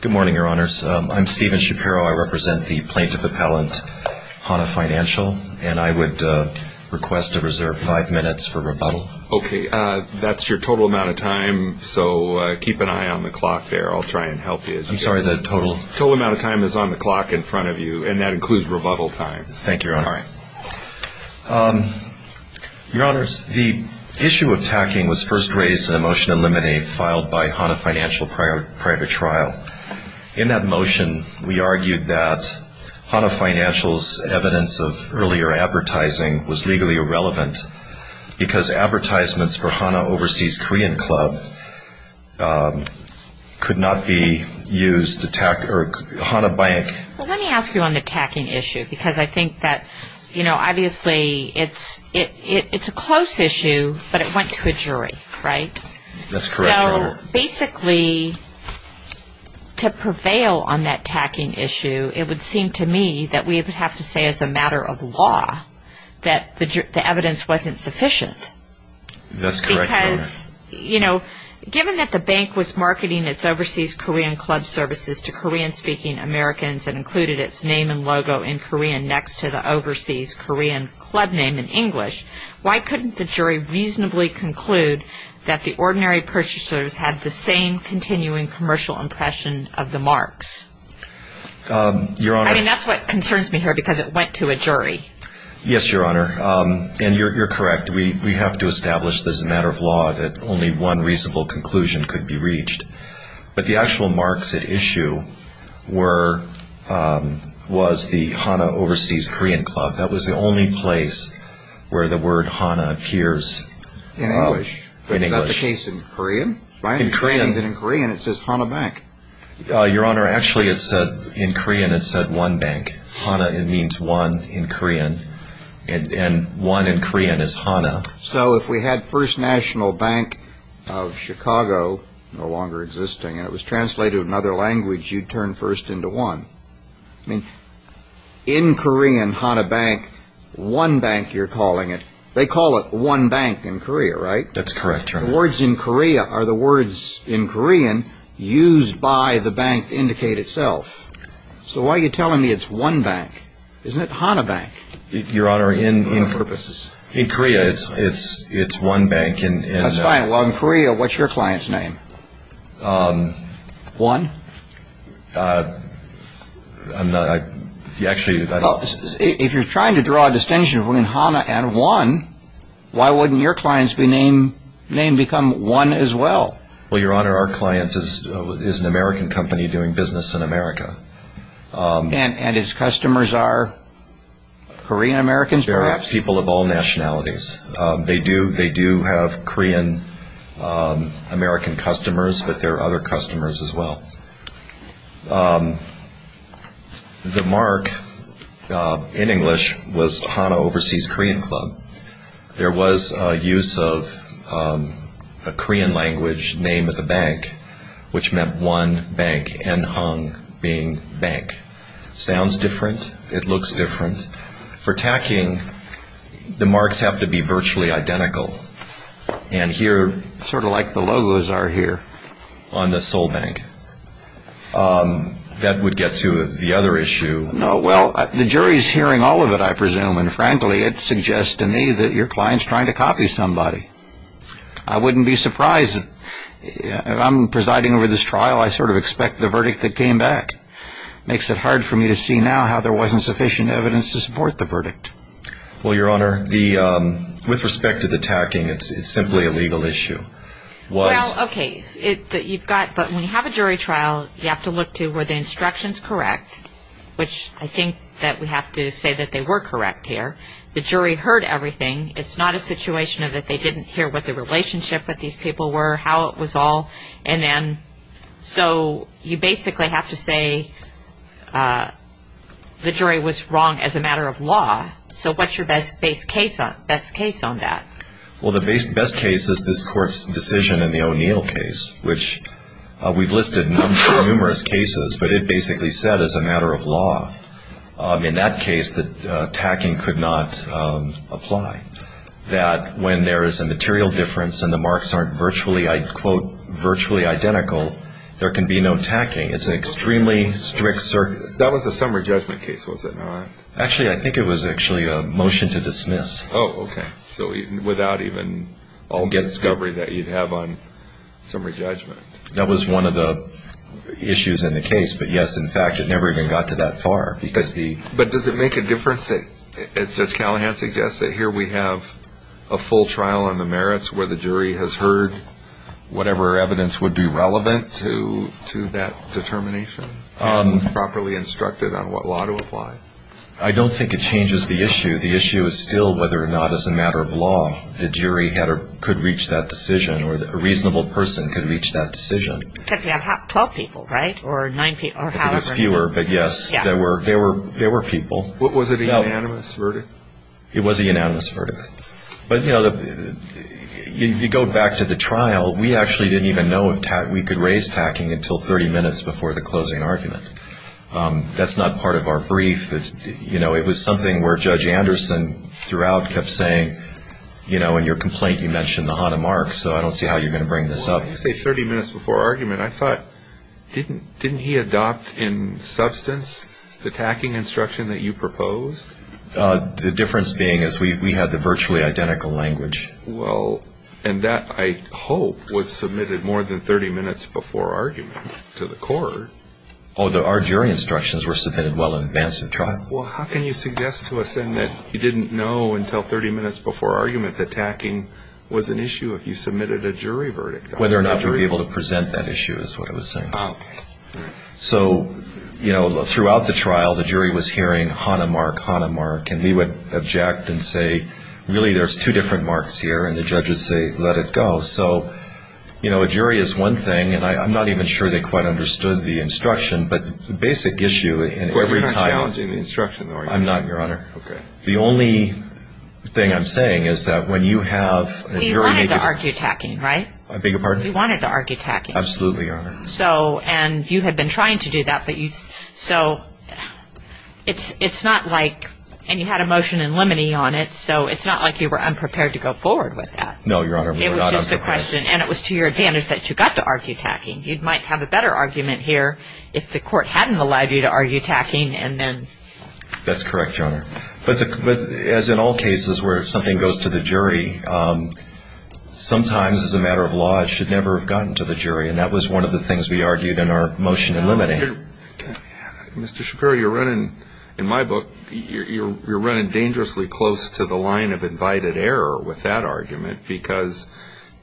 Good morning, Your Honors. I'm Stephen Shapiro. I represent the plaintiff appellant, Hana Financial, and I would request a reserve five minutes for rebuttal. Okay. That's your total amount of time, so keep an eye on the clock there. I'll try and help you. I'm sorry, the total? Total amount of time is on the clock in front of you, and that includes rebuttal time. Thank you, Your Honor. All right. Your Honors, the issue of tacking was first raised in a motion to eliminate, filed by In that motion, we argued that Hana Financial's evidence of earlier advertising was legally irrelevant because advertisements for Hana Overseas Korean Club could not be used to tack Hana Bank Well, let me ask you on the tacking issue, because I think that, you know, obviously it's a close issue, but it went to a jury, right? That's correct, Your Honor. Basically, to prevail on that tacking issue, it would seem to me that we would have to say as a matter of law that the evidence wasn't sufficient. That's correct, Your Honor. Because, you know, given that the bank was marketing its Overseas Korean Club services to Korean-speaking Americans and included its name and logo in Korean next to the Overseas Korean Club name in English, why couldn't the jury reasonably conclude that the ordinary purchasers had the same continuing commercial impression of the marks? Your Honor I mean, that's what concerns me here, because it went to a jury. Yes, Your Honor. And you're correct. We have to establish as a matter of law that only one reasonable conclusion could be reached. But the actual marks at issue were, was the Hana Overseas Korean Club. That was the only place where the word Hana appears in English. Is that the case in Korean? In Korean. In Korean it says Hana Bank. Your Honor, actually it said, in Korean it said One Bank. Hana, it means one in Korean. And one in Korean is Hana. So if we had First National Bank of Chicago, no longer existing, and it was translated into another language, you'd turn first into one. I mean, in Korean, Hana Bank, One Bank you're calling it. They call it One Bank in Korea, right? That's correct, Your Honor. The words in Korea are the words in Korean used by the bank to indicate itself. So why are you telling me it's One Bank? Isn't it Hana Bank? Your Honor, in Korea it's One Bank. That's fine. Well, in Korea, what's your client's name? One? I'm not, actually, that is... If you're trying to draw a distinction between Hana and One, why wouldn't your client's name become One as well? Well, Your Honor, our client is an American company doing business in America. And his customers are Korean-Americans, perhaps? They're people of all nationalities. They do have Korean-American customers, but there are other customers as well. The mark in English was Hana Overseas Korean Club. There was a use of a Korean-language name of the bank, which meant One Bank, N-Hang being Bank. Sounds different. It looks different. For tacking, the marks have to be virtually identical. And here, sort of like the logos are here on the sole bank, that would get to the other issue. Well, the jury's hearing all of it, I presume. And frankly, it suggests to me that your client's trying to copy somebody. I wouldn't be surprised. If I'm presiding over this trial, I sort of expect the verdict that came back. Makes it hard for me to see now how there wasn't sufficient evidence to support the verdict. Well, Your Honor, with respect to the tacking, it's simply a legal issue. Well, okay. But when you have a jury trial, you have to look to were the instructions correct, which I think that we have to say that they were correct here. The jury heard everything. It's not a situation that they didn't hear what the relationship with these people were, how it was all. So you basically have to say the jury was wrong as a matter of law. So what's your best case on that? Well, the best case is this Court's decision in the O'Neill case, which we've listed in numerous cases. But it basically said as a matter of law, in that case, the tacking could not apply. That when there is a material difference and the marks aren't virtually identical, there can be no tacking. It's an extremely strict circuit. That was a summary judgment case, was it not? Actually, I think it was actually a motion to dismiss. Oh, okay. So without even all the discovery that you'd have on summary judgment. That was one of the issues in the case. But yes, in fact, it never even got to that far. But does it make a difference that, as Judge Callahan suggested, here we have a full trial on the merits where the jury has heard whatever evidence would be relevant to that determination? Properly instructed on what law to apply? I don't think it changes the issue. The issue is still whether or not, as a matter of law, the jury could reach that decision or a reasonable person could reach that decision. 12 people, right? It was fewer, but yes, there were people. Was it a unanimous verdict? It was a unanimous verdict. But if you go back to the trial, we actually didn't even know if we could raise tacking until 30 minutes before the closing argument. That's not part of our brief. It was something where Judge Anderson, throughout, kept saying, in your complaint, you mentioned the Hahnemarks, so I don't see how you're going to bring this up. Well, I didn't say 30 minutes before argument. I thought, didn't he adopt in substance the tacking instruction that you proposed? The difference being is we had the virtually identical language. Well, and that, I hope, was submitted more than 30 minutes before argument to the court. Oh, our jury instructions were submitted well in advance of trial. Well, how can you suggest to us, then, that you didn't know until 30 minutes before argument that tacking was an issue if you submitted a jury verdict? Whether or not we were able to present that issue is what I was saying. So, you know, throughout the trial, the jury was hearing Hahnemark, Hahnemark, and we would object and say, really, there's two different marks here, and the judges say, let it go. So, you know, a jury is one thing, and I'm not even sure they quite understood the instruction, but the basic issue in every time... You're not challenging the instruction, are you? I'm not, Your Honor. Okay. The only thing I'm saying is that when you have a jury... We wanted to argue tacking, right? I beg your pardon? We wanted to argue tacking. Absolutely, Your Honor. So, and you had been trying to do that, but you... So, it's not like... And you had a motion in limine on it, so it's not like you were unprepared to go forward with that. No, Your Honor, we were not unprepared. It was just a question, and it was to your advantage that you got to argue tacking. You might have a better argument here if the court hadn't allowed you to argue tacking, and then... That's correct, Your Honor. But as in all cases where something goes to the jury, sometimes, as a matter of law, it should never have gotten to the jury, and that was one of the things we argued in our motion in limine. Mr. Shapiro, you're running... In my book, you're running dangerously close to the line of invited error with that argument because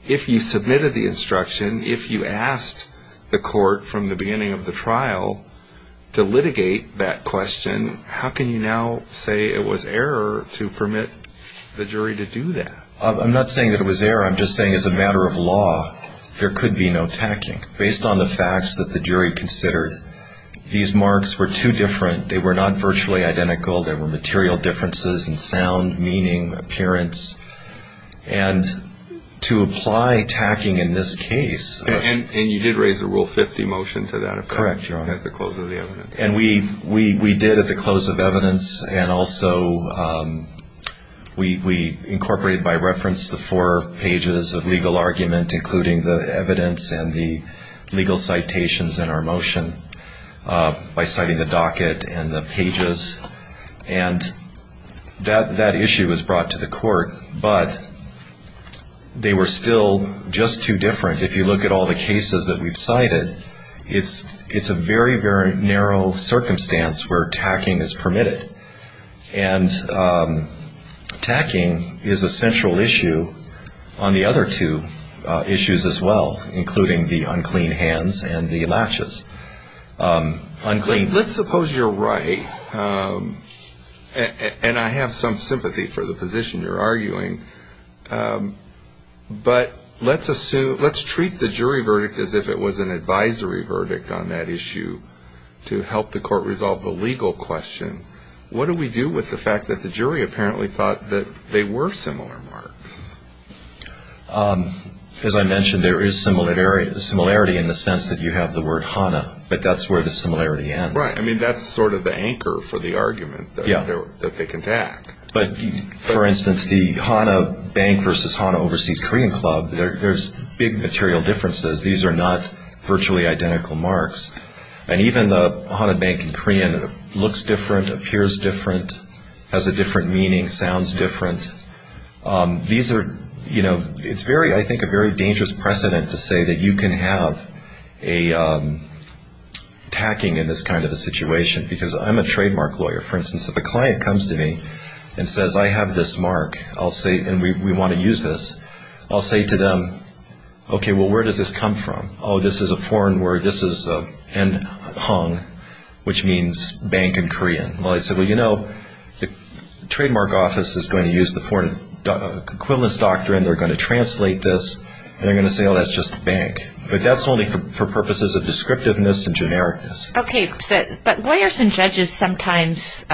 if you submitted the instruction, if you asked the court from the beginning of the trial to litigate that question, how can you now say it was error to permit the jury to do that? I'm not saying that it was error. I'm just saying, as a matter of law, there could be no tacking. Based on the facts that the jury considered, these marks were too different. They were not virtually identical. There were material differences in sound, meaning, appearance, and to apply tacking in this case... And you did raise a Rule 50 motion to that effect... Correct, Your Honor. ...at the close of the evidence. And we did at the close of evidence, and also we incorporated by reference the four pages of legal argument, including the evidence and the legal citations in our motion and that issue was brought to the court. But they were still just too different. If you look at all the cases that we've cited, it's a very, very narrow circumstance where tacking is permitted. And tacking is a central issue on the other two issues as well, including the unclean hands and the latches. Let's suppose you're right, and I have some sympathy for the position you're arguing, but let's treat the jury verdict as if it was an advisory verdict on that issue to help the court resolve the legal question. What do we do with the fact that the jury apparently thought that they were similar marks? As I mentioned, there is similarity in the sense that you have the word Hanna, but that's where the similarity ends. Right, I mean, that's sort of the anchor for the argument that they can tack. But for instance, the Hanna Bank versus Hanna Overseas Korean Club, there's big material differences. These are not virtually identical marks. And even the Hanna Bank in Korean looks different, appears different, has a different meaning, sounds different. These are, you know, it's very, I think, a very dangerous precedent to say that you can have a tacking in this kind of a situation because I'm a trademark lawyer. For instance, if a client comes to me and says, I have this mark, and we want to use this, I'll say to them, okay, well, where does this come from? Oh, this is a foreign word. This is N-Hong, which means bank in Korean. Well, I'd say, well, you know, the trademark office is going to use the foreign equivalence doctrine. They're going to translate this, and they're going to say, oh, that's just bank. But that's only for purposes of descriptiveness and genericness. Okay, but lawyers and judges sometimes,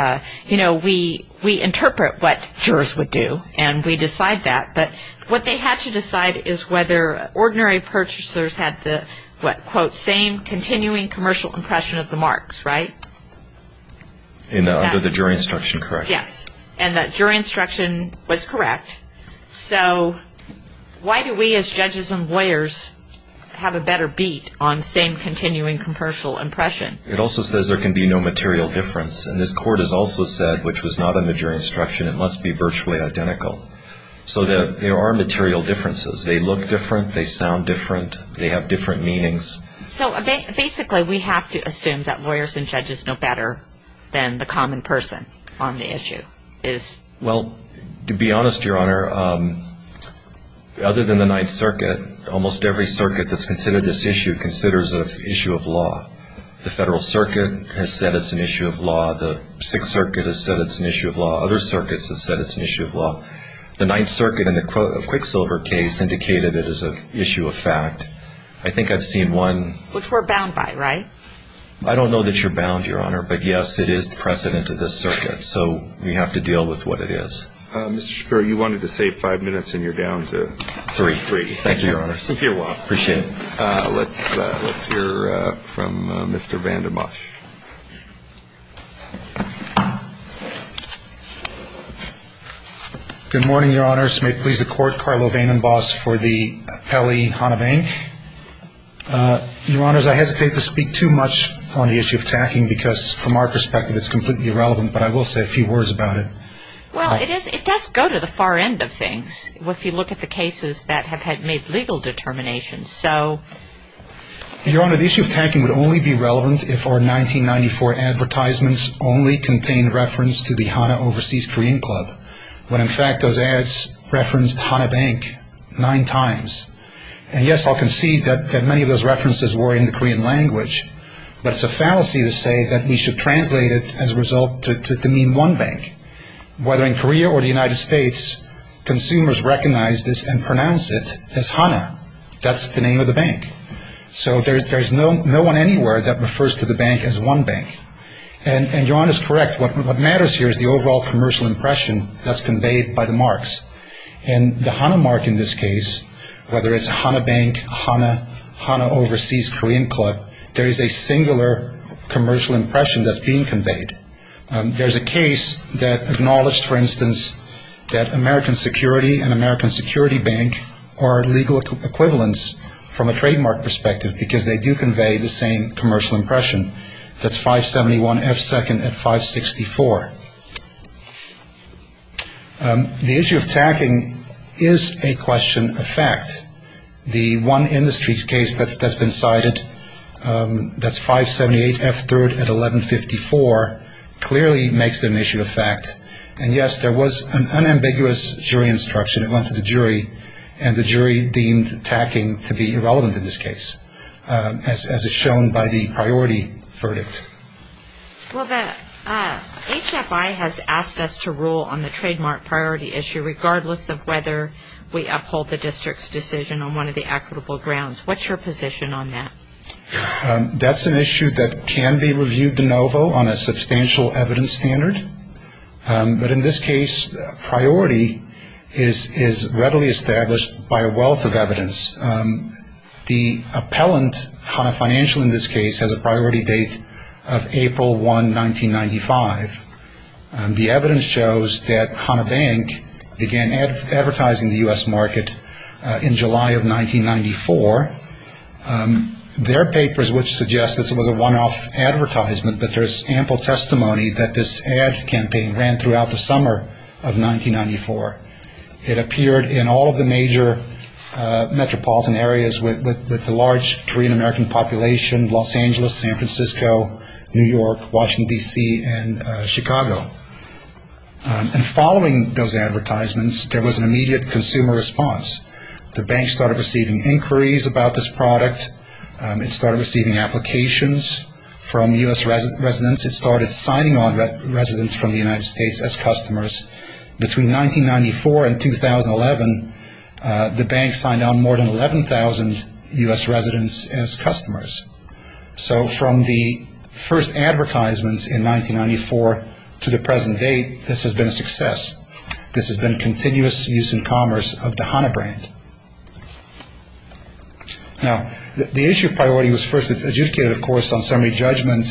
you know, we interpret what jurors would do, and we decide that. But what they had to decide is whether ordinary purchasers had the, what, quote, same continuing commercial impression of the marks, right? Under the jury instruction, correct. So why do we as judges and lawyers have a better beat on same continuing commercial impression? It also says there can be no material difference. And this court has also said, which was not in the jury instruction, it must be virtually identical. So there are material differences. They look different, they sound different, they have different meanings. So basically, we have to assume that lawyers and judges know better than the common person on the issue. Well, to be honest, Your Honor, other than the Ninth Circuit, almost every circuit that's considered this issue considers it an issue of law. The Federal Circuit has said it's an issue of law. The Sixth Circuit has said it's an issue of law. Other circuits have said it's an issue of law. The Ninth Circuit in the Quicksilver case indicated it as an issue of fact. I think I've seen one... Which we're bound by, right? I don't know that you're bound, Your Honor, but yes, it is the precedent of this circuit. So we have to deal with what it is. Mr. Shapiro, you wanted to save five minutes, and you're down to three. Thank you, Your Honor. Let's hear from Mr. Vandermosh. Good morning, Your Honor. This may please the Court. Carlo Vandenbos for the Appellee Honovang. Your Honor, I hesitate to speak too much on the issue of tacking because from our perspective it's completely irrelevant, but I will say a few words about it. Well, it does go to the far end of things. If you look at the cases that have had made legal determinations, so... Your Honor, the issue of tacking would only be relevant if our 1994 advertisements only contained reference to the Hana Overseas Korean Club, when in fact those ads referenced Hana Bank nine times. And yes, I'll concede that many of those references were in the Korean language, but it's a fallacy to say that we should translate it as a result to mean one bank. Whether in Korea or the United States, consumers recognize this and pronounce it as Hana. That's the name of the bank. So there's no one anywhere that refers to the bank as one bank. And Your Honor is correct. What matters here is the overall commercial impression that's conveyed by the marks. And the Hana mark in this case, whether it's Hana Bank, Hana, Hana Overseas Korean Club, there is a singular commercial impression that's being conveyed. There's a case that acknowledged, for instance, that American Security and American Security Bank are legal equivalents from a trademark perspective because they do convey the same commercial impression. That's 571 F2nd at 564. The issue of tacking is a question of fact. The one industry case that's been cited, that's 578 F3rd at 1154, clearly makes it an issue of fact. And yes, there was an unambiguous jury instruction that went to the jury and the jury deemed tacking to be irrelevant in this case as is shown by the priority verdict. Well, the HFI has asked us to rule on the trademark priority issue regardless of whether we uphold the district's decision on one of the equitable grounds. What's your position on that? That's an issue that can be reviewed de novo on a substantial evidence standard. But in this case, priority is readily established by a wealth of evidence. The appellant HANA Financial in this case has a priority date of April 1, 1995. The evidence shows that HANA Bank began advertising the U.S. market in July of 1994. Their papers would suggest this was a one-off advertisement, but there's ample testimony that this ad campaign ran throughout the summer of 1994. It appeared in all of the major metropolitan areas with the large Korean American population, Los Angeles, San Francisco, New York, Washington, D.C., and Chicago. And following those advertisements, there was an immediate consumer response. The bank started receiving inquiries about this product. It started receiving applications from U.S. residents. It started signing on residents from the United States as customers. Between 1994 and 2011, the bank signed on more than 11,000 U.S. residents as customers. So from the first advertisements in 1994 to the present date, this has been a success. This has been continuous use and commerce of the HANA brand. Now, the issue of priority was first adjudicated, of course, on summary judgment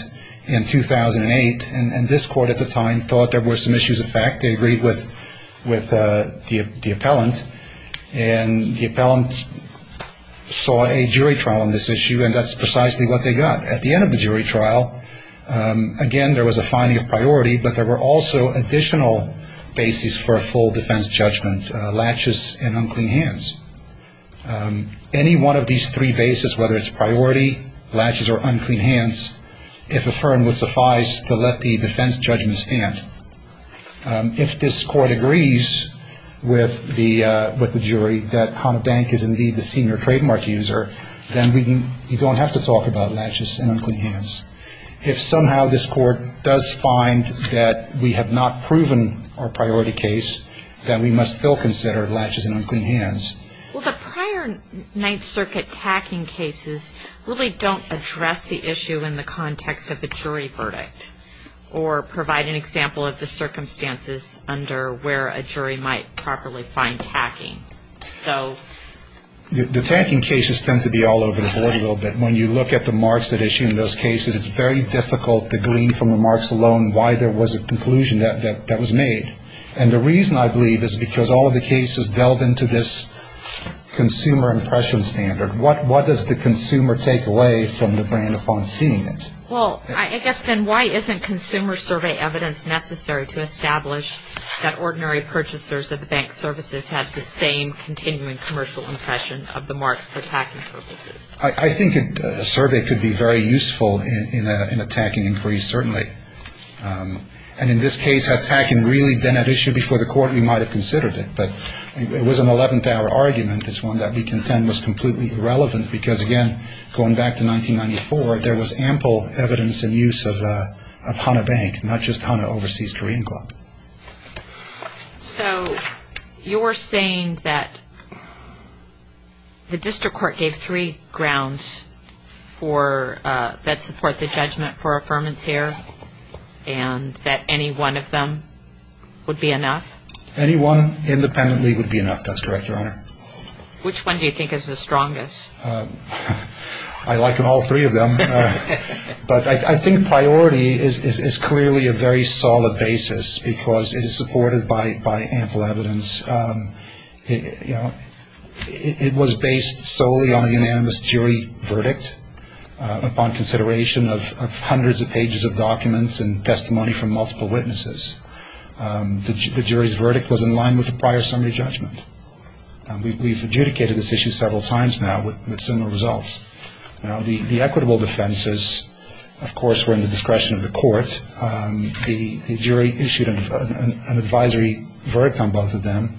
in 2008, and this court at the time thought there were some issues of fact. They agreed with the appellant, and the appellant saw a jury trial on this issue, and that's precisely what they got. At the end of the jury trial, again, there was a finding of basis for a full defense judgment, latches and unclean hands. Any one of these three basis, whether it's priority, latches or unclean hands, if affirmed would suffice to let the defense judgment stand. If this court agrees with the jury that HANA Bank is indeed the senior trademark user, then you don't have to talk about latches and unclean hands. If somehow this court does find that we have not proven our priority case, then we must still consider latches and unclean hands. Well, the prior Ninth Circuit tacking cases really don't address the issue in the context of the jury verdict, or provide an example of the circumstances under where a jury might properly find tacking. So... The tacking cases tend to be all over the board a little bit. When you look at the marks that issue in those cases, it's very difficult to glean from the marks alone why there was a conclusion that was made. And the reason, I believe, is because all of the cases delve into this consumer impression standard. What does the consumer take away from the brand upon seeing it? Well, I guess then, why isn't consumer survey evidence necessary to establish that ordinary purchasers of the bank services have the same continuing commercial impression of the marks for tacking purposes? I think a survey could be very useful in a tacking inquiry, certainly. And in this case, had tacking really been at issue before the Court, we might have considered it. But it was an eleventh-hour argument. It's one that we contend was completely irrelevant because, again, going back to 1994, there was ample evidence and use of Hanna Bank, not just Hanna Overseas Korean Club. So... you're saying that the District Court gave three grounds that support the judgment for affirmance here, and that any one of them would be enough? Any one, independently, would be enough. That's correct, Your Honor. Which one do you think is the strongest? I like all three of them. But I think priority is clearly a very solid basis because it is supported by ample evidence. It was based solely on the unanimous jury verdict upon consideration of hundreds of pages of documents and testimony from multiple witnesses. The jury's verdict was in line with the prior summary judgment. We've adjudicated this issue several times now with similar results. The equitable defenses, of course, were in the discretion of the Court. The jury issued an advisory verdict on both of them.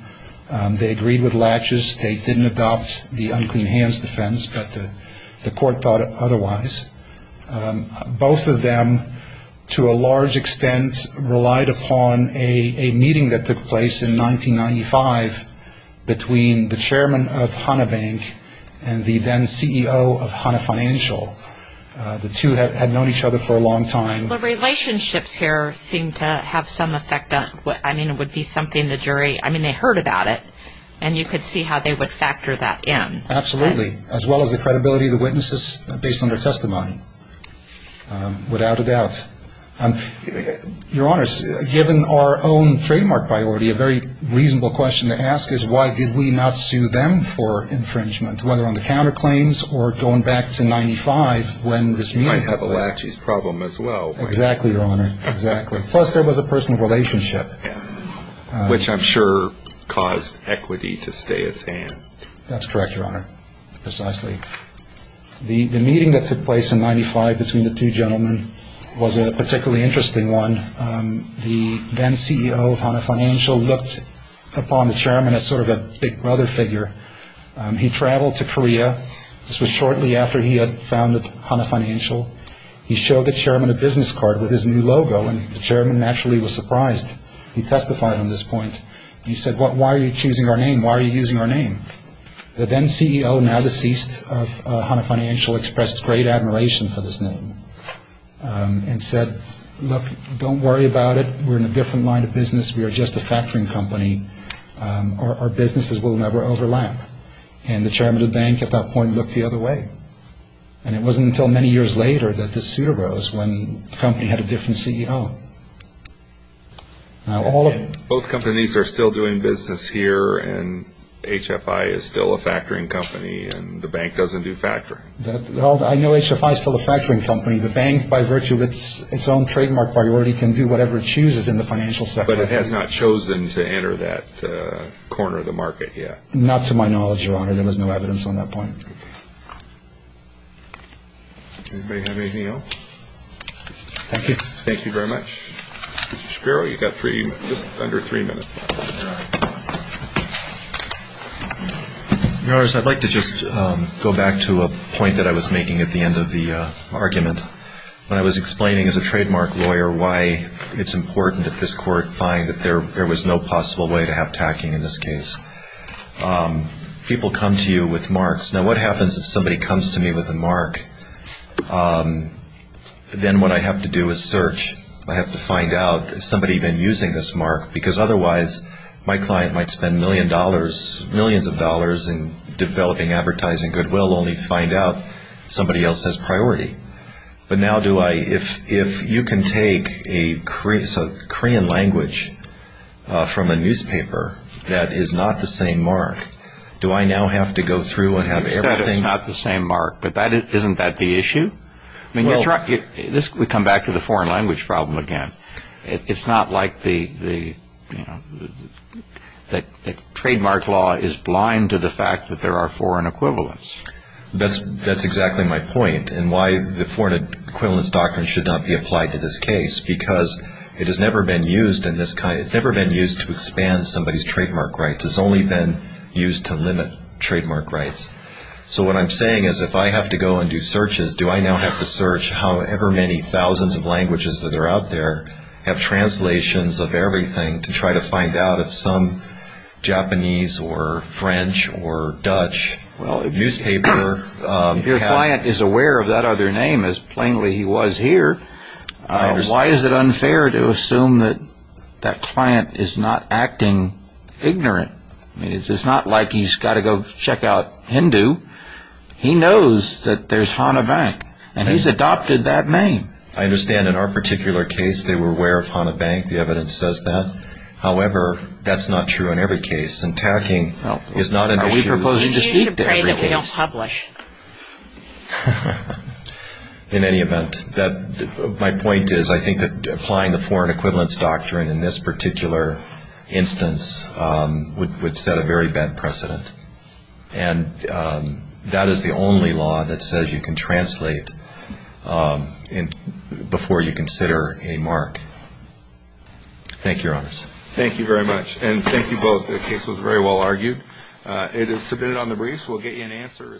They agreed with laches. They didn't adopt the unclean hands defense, but the Court thought otherwise. Both of them, to a large extent, relied upon a meeting that took place in 1995 between the chairman of Hanna Bank and the then CEO of Hanna Financial. The two had known each other for a long time. The relationships here seem to have some effect on what would be something the jury heard about it, and you could see how they would factor that in. Absolutely, as well as the credibility of the witnesses based on their testimony. Without a doubt. Your Honor, given our own trademark priority, a very reasonable question to ask is why did we not sue them for infringement, whether on the counterclaims or going back to 1995 when this meeting took place. Might have a laches problem as well. Exactly, Your Honor. Plus there was a personal relationship. Which I'm sure caused equity to stay at hand. That's correct, Your Honor. Precisely. The meeting that took place in 1995 between the two gentlemen was a particularly interesting one. The then CEO of Hanna Financial looked upon the chairman as sort of a big brother figure. He traveled to Korea. This was shortly after he had founded Hanna Financial. He showed the chairman a business card with his new logo and the chairman naturally was surprised. He testified on this point. He said, why are you choosing our name? Why are you using our name? The then CEO, now deceased of Hanna Financial expressed great admiration for this name and said, look, don't worry about it. We're in a different line of business. We are just a factoring company. Our businesses will never overlap. And the chairman of the bank at that point looked the other way. And it wasn't until many years later that this suit arose when the company had a different CEO. Both companies are still doing business here and HFI is still a factoring company and the bank doesn't do factoring. I know HFI is still a factoring company. The bank, by virtue of its own trademark priority, can do whatever it chooses in the financial sector. But it has not chosen to enter that corner of the market yet. Not to my knowledge, Your Honor. There was no evidence on that point. Okay. Anybody have anything else? Thank you. Thank you very much. Mr. Shapiro, you've got just under three minutes. Your Honor, I'd like to just go back to a point that I was making at the end of the argument when I was explaining as a trademark lawyer why it's important that this court find that there was no possible way to have tacking in this case. People come to you with marks. Now what happens if somebody comes to me with a mark? Then what I have to do is search. I have to find out has somebody been using this mark because otherwise my client might spend millions of dollars in developing advertising goodwill only to find out somebody else has priority. But now if you can take a Korean language from a newspaper that is not the same mark, do I now have to go through and have everything? You said it's not the same mark, but isn't that the issue? We come back to the foreign language problem again. It's not like the trademark law is blind to the fact that there are foreign equivalents. That's exactly my point and why the foreign equivalents doctrine should not be applied to this case because it has never been used to expand somebody's trademark rights. It's only been used to limit trademark rights. So what I'm saying is if I have to go and do searches, do I now have to search however many thousands of languages that are out there, have translations of everything to try to find out if some Japanese or French or Dutch newspaper Your client is aware of that other name as plainly he was here. Why is it unfair to assume that that client is not acting ignorant? It's not like he's got to go check out Hindu. He knows that there's Hana Bank and he's adopted that name. I understand in our particular case they were aware of Hana Bank, the evidence says that. However, that's not true in every case and tacking is not an issue. You should pray that we don't publish. In any event, my point is I think that applying the Foreign Equivalence Doctrine in this particular instance would set a very bad precedent and that is the only law that says you can translate before you consider a mark. Thank you, Your Honors. Thank you very much and thank you both. The case was very well argued. It is submitted on the briefs. We'll get you an answer.